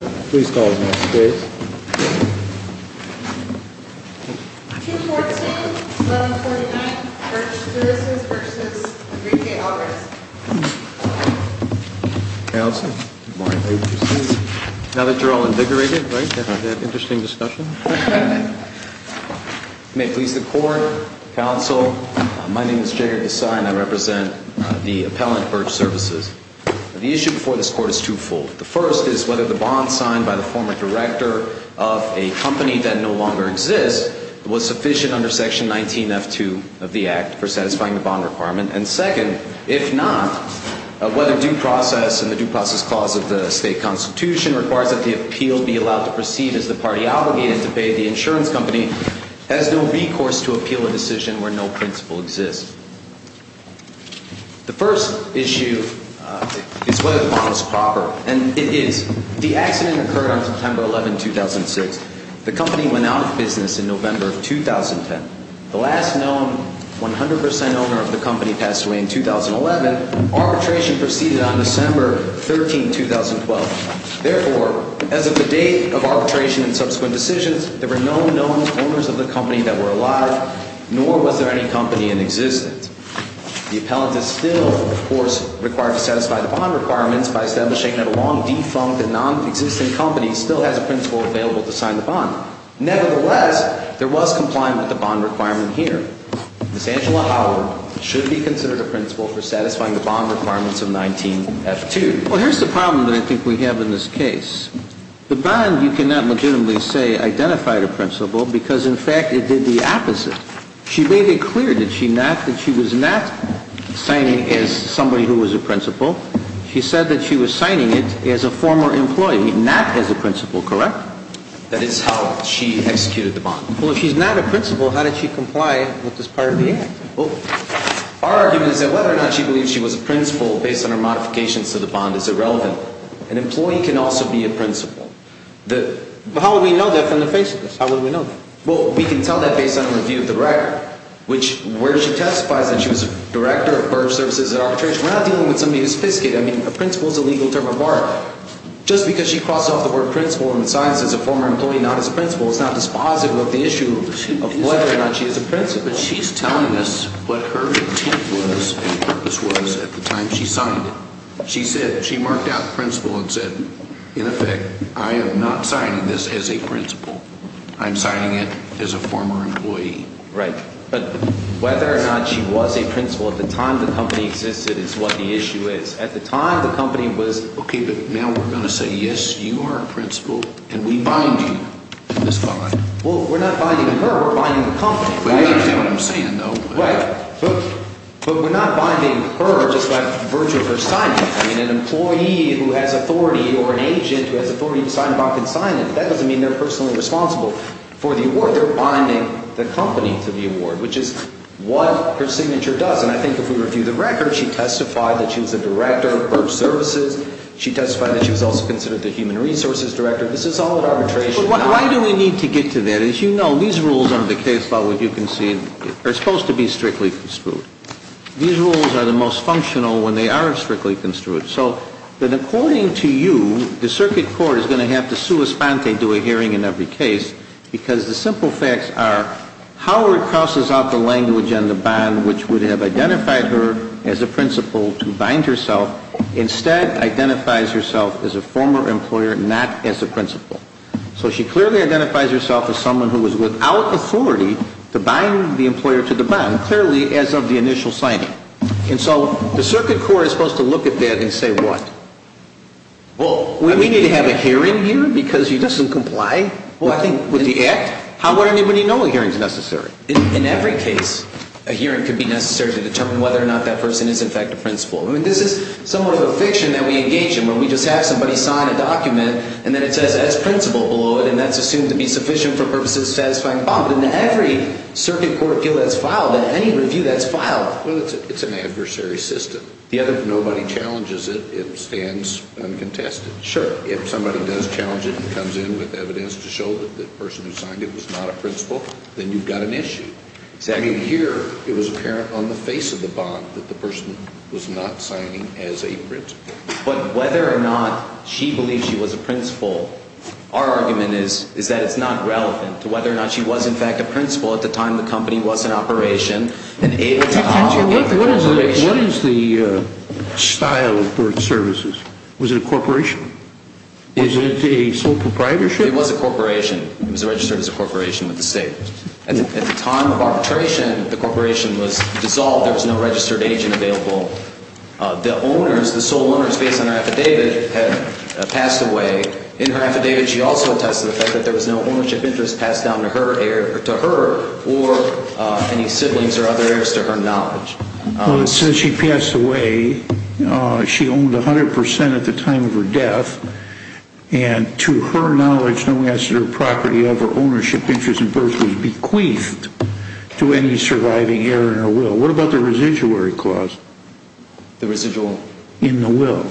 Please call his name, please. 214-1149, Birch Services v. 3K Alvarez. Counsel, good morning. Now that you're all invigorated, right, we're going to have an interesting discussion. May it please the court, counsel, my name is Jared Desai and I represent the appellant, Birch Services. The issue before this court is twofold. The first is whether the bond signed by the former director of a company that no longer exists was sufficient under Section 19F2 of the Act for satisfying the bond requirement. And second, if not, whether due process and the due process clause of the state constitution requires that the appeal be allowed to proceed as the party obligated to pay the insurance company has no recourse to appeal a decision where no principle exists. The first issue is whether the bond is proper, and it is. The accident occurred on September 11, 2006. The company went out of business in November of 2010. The last known 100% owner of the company passed away in 2011. Arbitration proceeded on December 13, 2012. Therefore, as of the date of arbitration and subsequent decisions, there were no known owners of the company that were alive, nor was there any company in existence. The appellant is still, of course, required to satisfy the bond requirements by establishing that a long defunct and nonexistent company still has a principle available to sign the bond. Nevertheless, there was compliance with the bond requirement here. Ms. Angela Howard should be considered a principle for satisfying the bond requirements of 19F2. Well, here's the problem that I think we have in this case. The bond, you cannot legitimately say identified a principle because, in fact, it did the opposite. She made it clear, did she not, that she was not signing it as somebody who was a principle. She said that she was signing it as a former employee, not as a principle, correct? That is how she executed the bond. Well, if she's not a principle, how did she comply with this part of the act? Well, our argument is that whether or not she believes she was a principle based on her modifications to the bond is irrelevant. An employee can also be a principle. But how would we know that from the face of this? How would we know that? Well, we can tell that based on a review of the record, which where she testifies that she was a director of borrower services at Arbitration. We're not dealing with somebody who's fiscated. I mean, a principle is a legal term of borrower. Just because she crosses off the word principle and signs as a former employee, not as a principle, it's not dispositive of the issue of whether or not she is a principle. But she's telling us what her intent was and purpose was at the time she signed it. She said – she marked out principle and said, in effect, I am not signing this as a principle. I'm signing it as a former employee. Right. But whether or not she was a principle at the time the company existed is what the issue is. At the time the company was – Okay, but now we're going to say, yes, you are a principle, and we bind you in this bond. Well, we're not binding her. We're binding the company. But you understand what I'm saying, though. Right. But we're not binding her just by virtue of her signing it. I mean, an employee who has authority or an agent who has authority to sign a bond can sign it. That doesn't mean they're personally responsible for the award. They're binding the company to the award, which is what her signature does. And I think if we review the record, she testified that she was the director of services. She testified that she was also considered the human resources director. This is all at arbitration. But why do we need to get to that? As you know, these rules under the case law, as you can see, are supposed to be strictly construed. These rules are the most functional when they are strictly construed. So according to you, the circuit court is going to have to sua sponte, do a hearing in every case, because the simple facts are Howard crosses out the language on the bond, which would have identified her as a principle to bind herself. Instead, identifies herself as a former employer, not as a principle. So she clearly identifies herself as someone who was without authority to bind the employer to the bond, clearly as of the initial signing. And so the circuit court is supposed to look at that and say what? Well, we need to have a hearing here because she doesn't comply with the act? How would anybody know a hearing is necessary? In every case, a hearing could be necessary to determine whether or not that person is in fact a principle. I mean, this is somewhat of a fiction that we engage in, where we just have somebody sign a document and then it says as principle below it, and that's assumed to be sufficient for purposes of satisfying bond. In every circuit court appeal that's filed, in any review that's filed. Well, it's an adversary system. Nobody challenges it. It stands uncontested. Sure. If somebody does challenge it and comes in with evidence to show that the person who signed it was not a principle, then you've got an issue. I mean, here it was apparent on the face of the bond that the person was not signing as a principle. But whether or not she believes she was a principle, our argument is that it's not relevant to whether or not she was in fact a principle at the time the company was in operation. What is the style of birth services? Was it a corporation? Was it a sole proprietorship? It was a corporation. It was registered as a corporation with the state. At the time of arbitration, the corporation was dissolved. There was no registered agent available. The owners, the sole owners based on her affidavit, had passed away. In her affidavit, she also attests to the fact that there was no ownership interest passed down to her or any siblings or other heirs to her knowledge. Well, it says she passed away. She owned 100% at the time of her death. And to her knowledge, no asset or property of her ownership interest in birth was bequeathed to any surviving heir in her will. What about the residuary clause? The residual? In the will.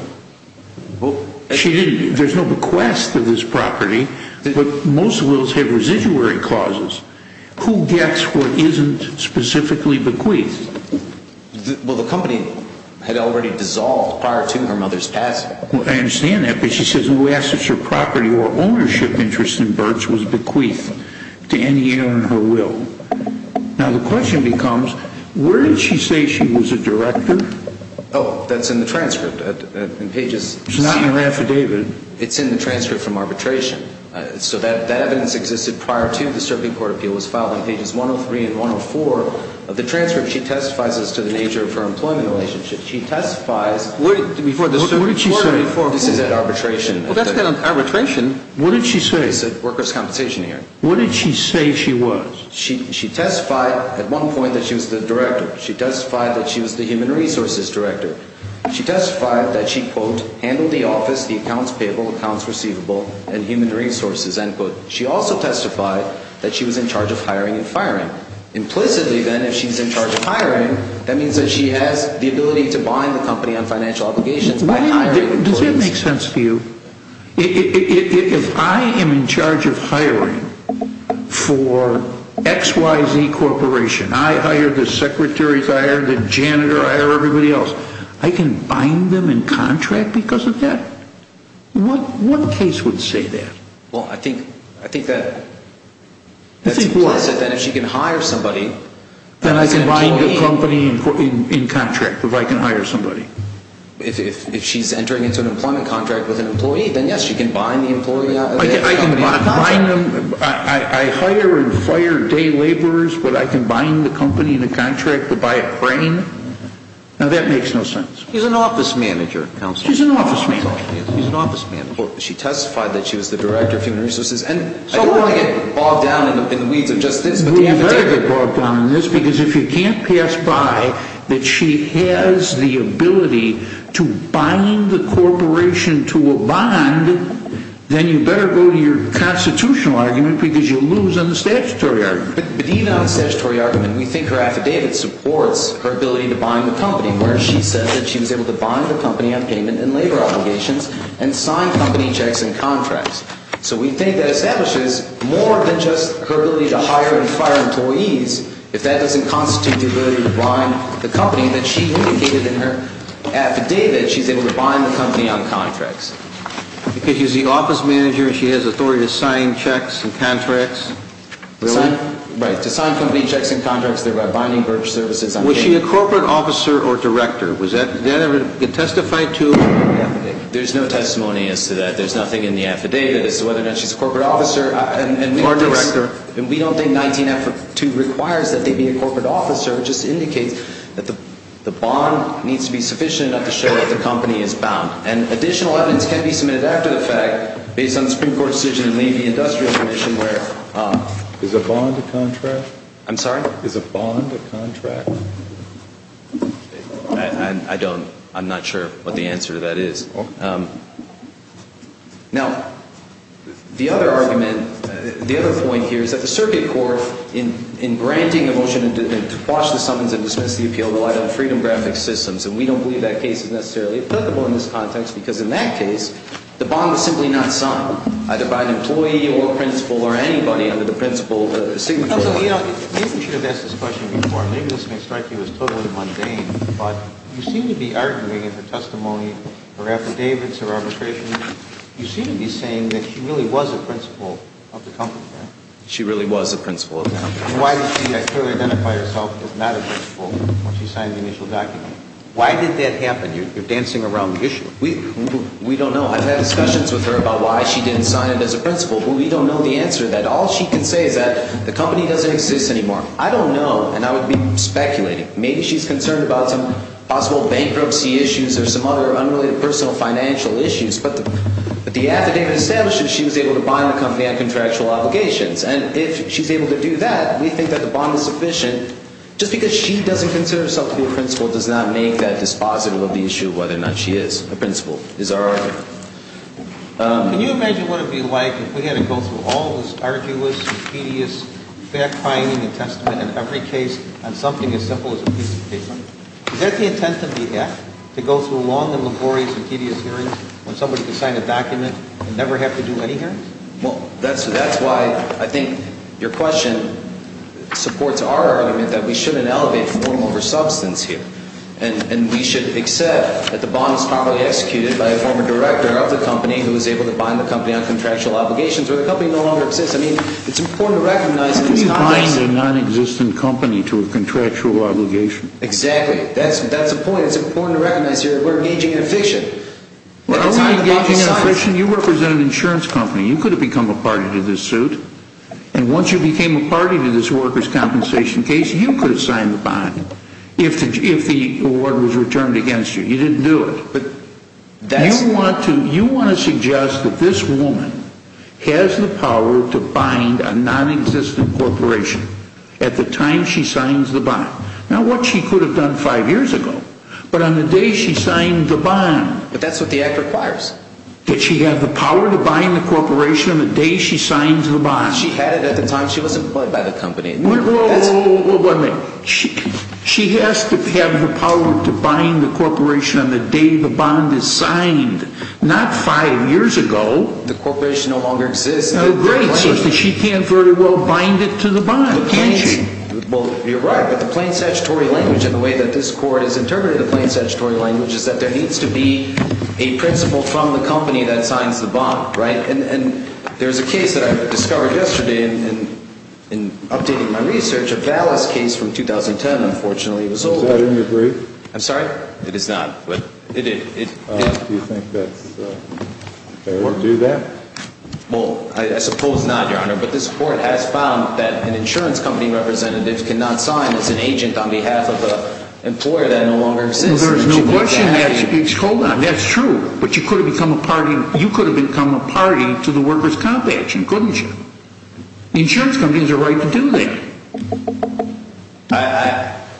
She didn't, there's no bequest of this property, but most wills have residuary clauses. Who gets what isn't specifically bequeathed? Well, the company had already dissolved prior to her mother's passing. I understand that, but she says no asset or property or ownership interest in birth was bequeathed to any heir in her will. Now, the question becomes, where did she say she was a director? Oh, that's in the transcript. It's not in her affidavit. It's in the transcript from arbitration. So that evidence existed prior to the Serpian Court of Appeal was filed on pages 103 and 104 of the transcript. She testifies as to the nature of her employment relationship. She testifies before the Serpian Court of Reform. What did she say? This is at arbitration. Well, that's at arbitration. What did she say? It's at workers' compensation hearing. What did she say she was? She testified at one point that she was the director. She testified that she was the human resources director. She testified that she, quote, handled the office, the accounts payable, accounts receivable, and human resources, end quote. She also testified that she was in charge of hiring and firing. Implicitly, then, if she's in charge of hiring, that means that she has the ability to bind the company on financial obligations by hiring employees. Does that make sense to you? If I am in charge of hiring for XYZ Corporation, I hire the secretaries, I hire the janitor, I hire everybody else, I can bind them in contract because of that? What case would say that? Well, I think that's implicit, then, if she can hire somebody. Then I can bind the company in contract if I can hire somebody. If she's entering into an employment contract with an employee, then, yes, she can bind the employee out of that company in contract. I can bind them. I hire and fire day laborers, but I can bind the company in a contract to buy a crane? Now, that makes no sense. She's an office manager, counsel. She's an office manager. She's an office manager. She testified that she was the director of human resources. And I don't want to get bogged down in the weeds of just this. Because if you can't pass by that she has the ability to bind the corporation to a bond, then you better go to your constitutional argument because you'll lose on the statutory argument. But even on the statutory argument, we think her affidavit supports her ability to bind the company where she said that she was able to bind the company on payment and labor obligations and sign company checks and contracts. So we think that establishes more than just her ability to hire and fire employees. If that doesn't constitute the ability to bind the company that she indicated in her affidavit, she's able to bind the company on contracts. Because she's the office manager and she has authority to sign checks and contracts? Really? Right. To sign company checks and contracts that are binding for services on payment. Was she a corporate officer or director? Was that ever testified to? There's no testimony as to that. There's nothing in the affidavit as to whether or not she's a corporate officer. Or director. And we don't think 19-F-2 requires that they be a corporate officer. It just indicates that the bond needs to be sufficient enough to show that the company is bound. And additional evidence can be submitted after the fact based on the Supreme Court decision to leave the Industrial Commission where... Is a bond a contract? I'm sorry? Is a bond a contract? I don't, I'm not sure what the answer to that is. Now, the other argument, the other point here is that the circuit court in granting a motion to quash the summons and dismiss the appeal relied on Freedom Graphics Systems. And we don't believe that case is necessarily applicable in this context because in that case, the bond was simply not signed. Either by an employee or principal or anybody under the principal... You know, maybe we should have asked this question before. Maybe this may strike you as totally mundane, but you seem to be arguing in her testimony, her affidavits, her arbitrations, you seem to be saying that she really was a principal of the company. She really was a principal of the company. Why did she clearly identify herself as not a principal when she signed the initial document? Why did that happen? You're dancing around the issue. We don't know. I've had discussions with her about why she didn't sign it as a principal. We don't know the answer to that. All she can say is that the company doesn't exist anymore. I don't know, and I would be speculating. Maybe she's concerned about some possible bankruptcy issues or some other unrelated personal financial issues. But the affidavit establishes she was able to bond the company on contractual obligations. And if she's able to do that, we think that the bond is sufficient. Just because she doesn't consider herself to be a principal does not make that dispositive of the issue of whether or not she is a principal is our argument. Can you imagine what it would be like if we had to go through all this arduous and tedious fact-finding and testament in every case on something as simple as a piece of paper? Is that the intent of the act, to go through long and laborious and tedious hearings when somebody can sign a document and never have to do any hearings? Well, that's why I think your question supports our argument that we shouldn't elevate form over substance here. And we should accept that the bond is probably executed by a former director of the company who was able to bond the company on contractual obligations where the company no longer exists. I mean, it's important to recognize in this context... Who would bond a non-existent company to a contractual obligation? Exactly. That's the point. It's important to recognize here that we're engaging in a fiction. We're only engaging in a fiction. You represent an insurance company. You could have become a party to this suit. And once you became a party to this workers' compensation case, you could have signed the bond. If the award was returned against you. You didn't do it. You want to suggest that this woman has the power to bind a non-existent corporation at the time she signs the bond. Not what she could have done five years ago, but on the day she signed the bond. But that's what the act requires. That she has the power to bind the corporation on the day she signs the bond. She had it at the time she was employed by the company. Wait a minute. She has to have the power to bind the corporation on the day the bond is signed. Not five years ago. The corporation no longer exists. She can't very well bind it to the bond, can she? Well, you're right. But the plain statutory language and the way that this court has interpreted the plain statutory language is that there needs to be a principal from the company that signs the bond. And there's a case that I discovered yesterday in updating my research. A Valis case from 2010, unfortunately. Is that in your brief? I'm sorry? It is not. Do you think that's fair to do that? Well, I suppose not, Your Honor. But this court has found that an insurance company representative cannot sign as an agent on behalf of an employer that no longer exists. Well, there's no question that's true. But you could have become a party to the workers' comp action, couldn't you? The insurance company has a right to do that.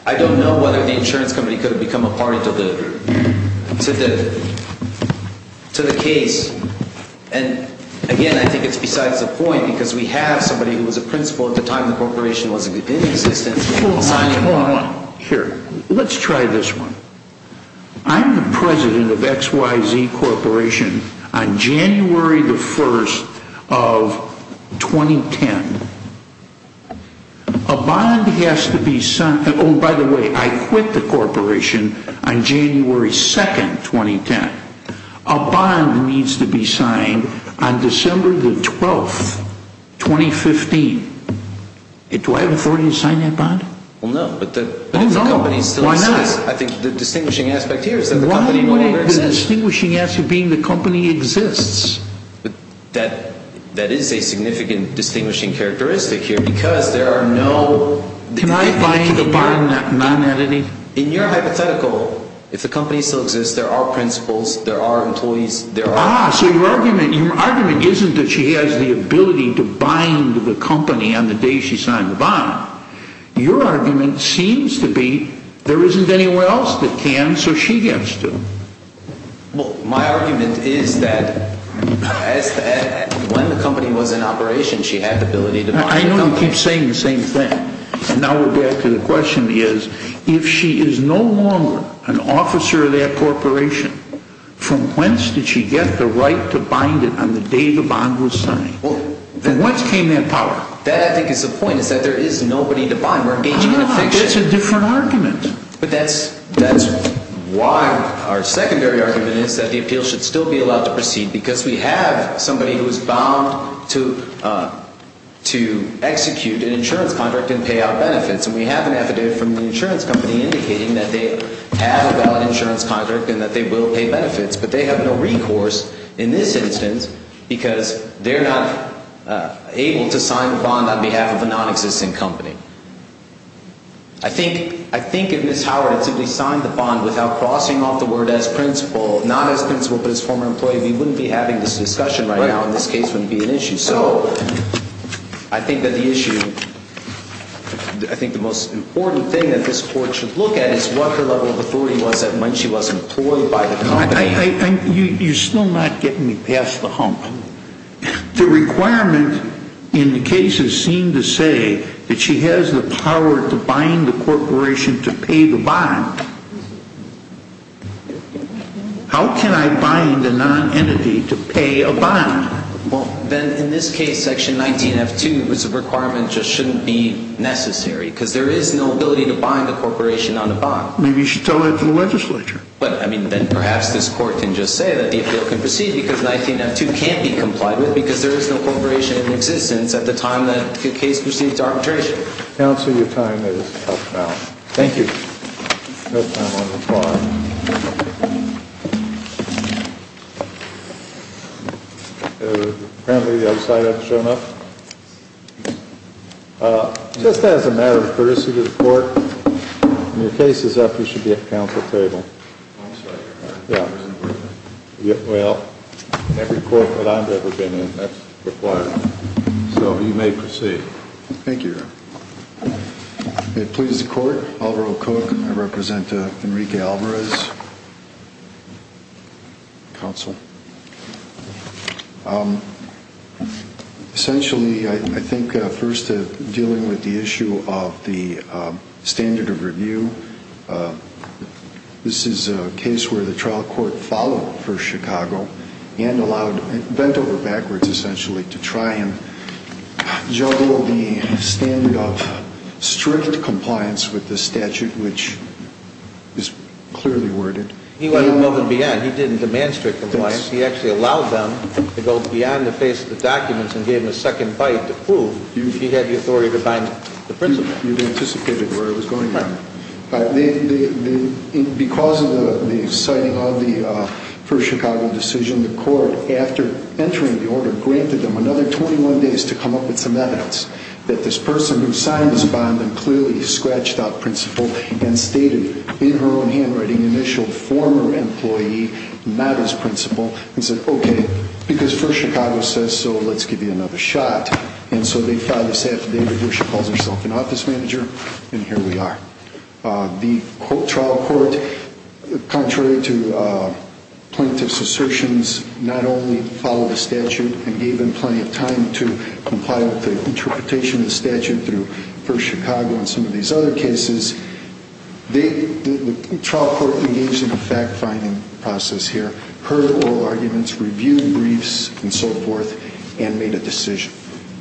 I don't know whether the insurance company could have become a party to the case. And again, I think it's besides the point because we have somebody who was a principal at the time the corporation was in existence. Here, let's try this one. I'm the president of XYZ Corporation on January the 1st of 2010. A bond has to be signed. Oh, by the way, I quit the corporation on January 2nd, 2010. A bond needs to be signed on December the 12th, 2015. Do I have authority to sign that bond? Well, no. Oh, no? Why not? I think the distinguishing aspect here is that the company no longer exists. The distinguishing aspect being the company exists. That is a significant distinguishing characteristic here because there are no... Can I bind the bond non-entity? In your hypothetical, if the company still exists, there are principals, there are employees, there are... Ah, so your argument isn't that she has the ability to bind the company on the day she signed the bond. Your argument seems to be there isn't anywhere else that can, so she gets to. Well, my argument is that when the company was in operation, she had the ability to bind the company. I know you keep saying the same thing. And now we're back to the question is, if she is no longer an officer of that corporation, from whence did she get the right to bind it on the day the bond was signed? From whence came that power? That, I think, is the point, is that there is nobody to bind. We're engaging in an action. I think that's a different argument. But that's why our secondary argument is that the appeal should still be allowed to proceed because we have somebody who is bound to execute an insurance contract and pay out benefits. And we have an affidavit from the insurance company indicating that they have a valid insurance contract and that they will pay benefits, but they have no recourse in this instance because they're not able to sign the bond on behalf of a non-existing company. I think if Ms. Howard had simply signed the bond without crossing off the word as principal, but as former employee, we wouldn't be having this discussion right now, and this case wouldn't be an issue. So I think that the issue, I think the most important thing that this Court should look at is what her level of authority was at when she was employed by the company. You're still not getting me past the hump. The requirement in the case is seen to say that she has the power to bind the corporation to pay the bond. How can I bind a non-entity to pay a bond? Well, then in this case, Section 19F2 was a requirement that just shouldn't be necessary because there is no ability to bind the corporation on the bond. Maybe you should tell that to the legislature. But, I mean, then perhaps this Court can just say that the appeal can proceed because 19F2 can't be complied with because there is no corporation in existence at the time that the case proceeds to arbitration. Counsel, your time is up now. Thank you. No time on the bond. Apparently the other side hasn't shown up. Just as a matter of courtesy to the Court, when your case is up, you should be at the Council table. I'm sorry, Your Honor. Well, every Court that I've ever been in, that's required. So you may proceed. Thank you, Your Honor. It pleases the Court. Alvaro Cook. I represent Enrique Alvarez. Counsel. Essentially, I think first dealing with the issue of the standard of review, bent over backwards, essentially, to try and juggle the standard of strict compliance with the statute, which is clearly worded. He went a moment beyond. He didn't demand strict compliance. He actually allowed them to go beyond the face of the documents and gave them a second bite to prove he had the authority to bind the principal. You've anticipated where I was going. Right. Because of the citing of the First Chicago decision, the Court, after entering the order, granted them another 21 days to come up with some evidence that this person who signed this bond and clearly scratched out principal and stated in her own handwriting, initialed former employee, not as principal, and said, okay, because First Chicago says so, let's give you another shot. And so they filed this affidavit where she calls herself an office manager, and here we are. The trial court, contrary to plaintiff's assertions, not only followed the statute and gave them plenty of time to comply with the interpretation of the statute through First Chicago and some of these other cases, the trial court engaged in a fact-finding process here, heard oral arguments, reviewed briefs, and so forth, and made a decision.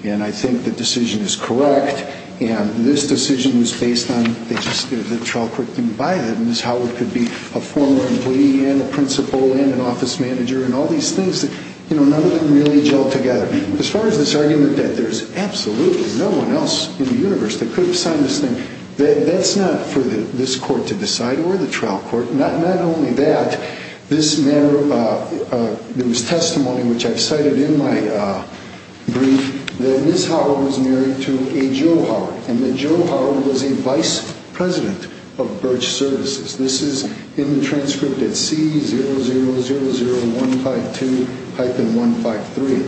And I think the decision is correct, and this decision was based on the trial court didn't buy that. Ms. Howard could be a former employee and a principal and an office manager and all these things that none of them really gelled together. As far as this argument that there's absolutely no one else in the universe that could have signed this thing, that's not for this court to decide or the trial court. Not only that, there was testimony, which I've cited in my brief, that Ms. Howard was married to a Joe Howard, and that Joe Howard was a vice president of Birch Services. This is in the transcript at C0000152-153,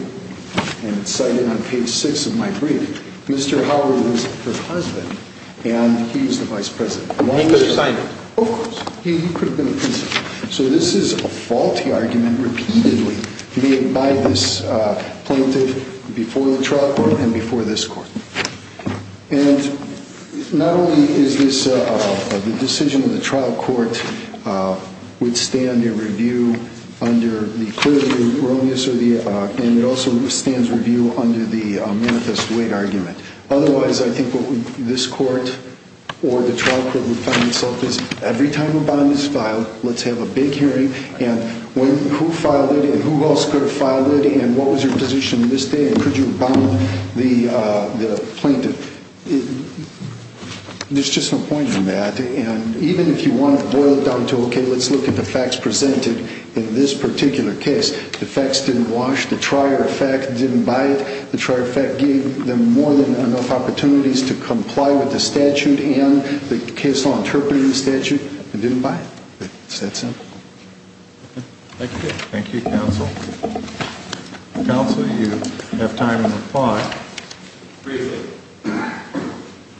and it's cited on page 6 of my brief. Mr. Howard was her husband, and he was the vice president. He could have signed it. Of course. He could have been a principal. So this is a faulty argument repeatedly made by this plaintiff before the trial court and before this court. And not only is this the decision of the trial court would stand a review under the clearly erroneous, and it also stands review under the manifest weight argument. Otherwise, I think what this court or the trial court would find itself is every time a bond is filed, let's have a big hearing, and who filed it, and who else could have filed it, and what was your position to this day, and could you have bound the plaintiff? There's just no point in that. And even if you want to boil it down to, okay, let's look at the facts presented in this particular case, the facts didn't wash, the trier effect didn't buy it, the trier effect gave them more than enough opportunities to comply with the statute and the case law interpreting the statute and didn't buy it. It's that simple. Thank you. Thank you, counsel. Counsel, you have time in the floor. Briefly.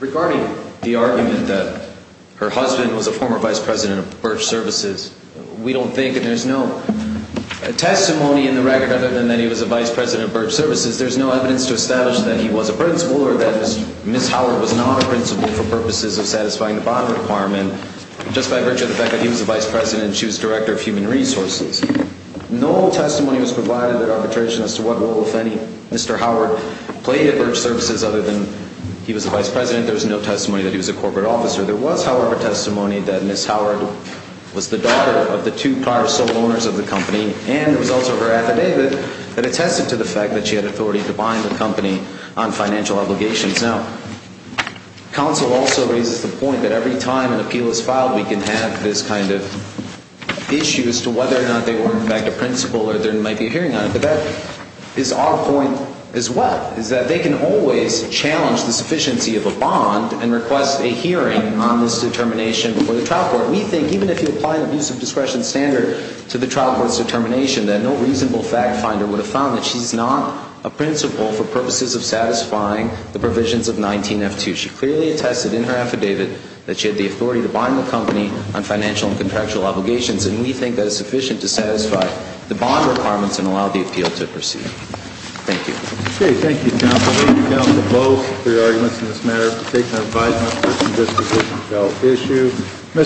Regarding the argument that her husband was a former vice president of Birch Services, we don't think that there's no testimony in the record other than that he was a vice president of Birch Services. There's no evidence to establish that he was a principal or that Ms. Howard was not a principal for purposes of satisfying the bond requirement, just by virtue of the fact that he was a vice president and she was director of human resources. No testimony was provided at arbitration as to what role, if any, Mr. Howard played at Birch Services other than he was a vice president. There was no testimony that he was a corporate officer. There was, however, testimony that Ms. Howard was the daughter of the two prior sole owners of the company, and there was also her affidavit that attested to the fact that she had authority to bind the company on financial obligations. Now, counsel also raises the point that every time an appeal is filed, we can have this kind of issue as to whether or not they were, in fact, a principal or there might be a hearing on it. But that is our point as well, is that they can always challenge the sufficiency of a bond and request a hearing on this determination before the trial court. We think, even if you apply an abuse of discretion standard to the trial court's determination, that no reasonable fact finder would have found that she's not a principal for purposes of satisfying the provisions of 19F2. She clearly attested in her affidavit that she had the authority to bind the company on financial and contractual obligations, and we think that is sufficient to satisfy the bond requirements and allow the appeal to proceed. Thank you. Okay. Thank you, counsel. Thank you, counsel, both, for your arguments in this matter. We'll take our five minutes for some discussion about the issue.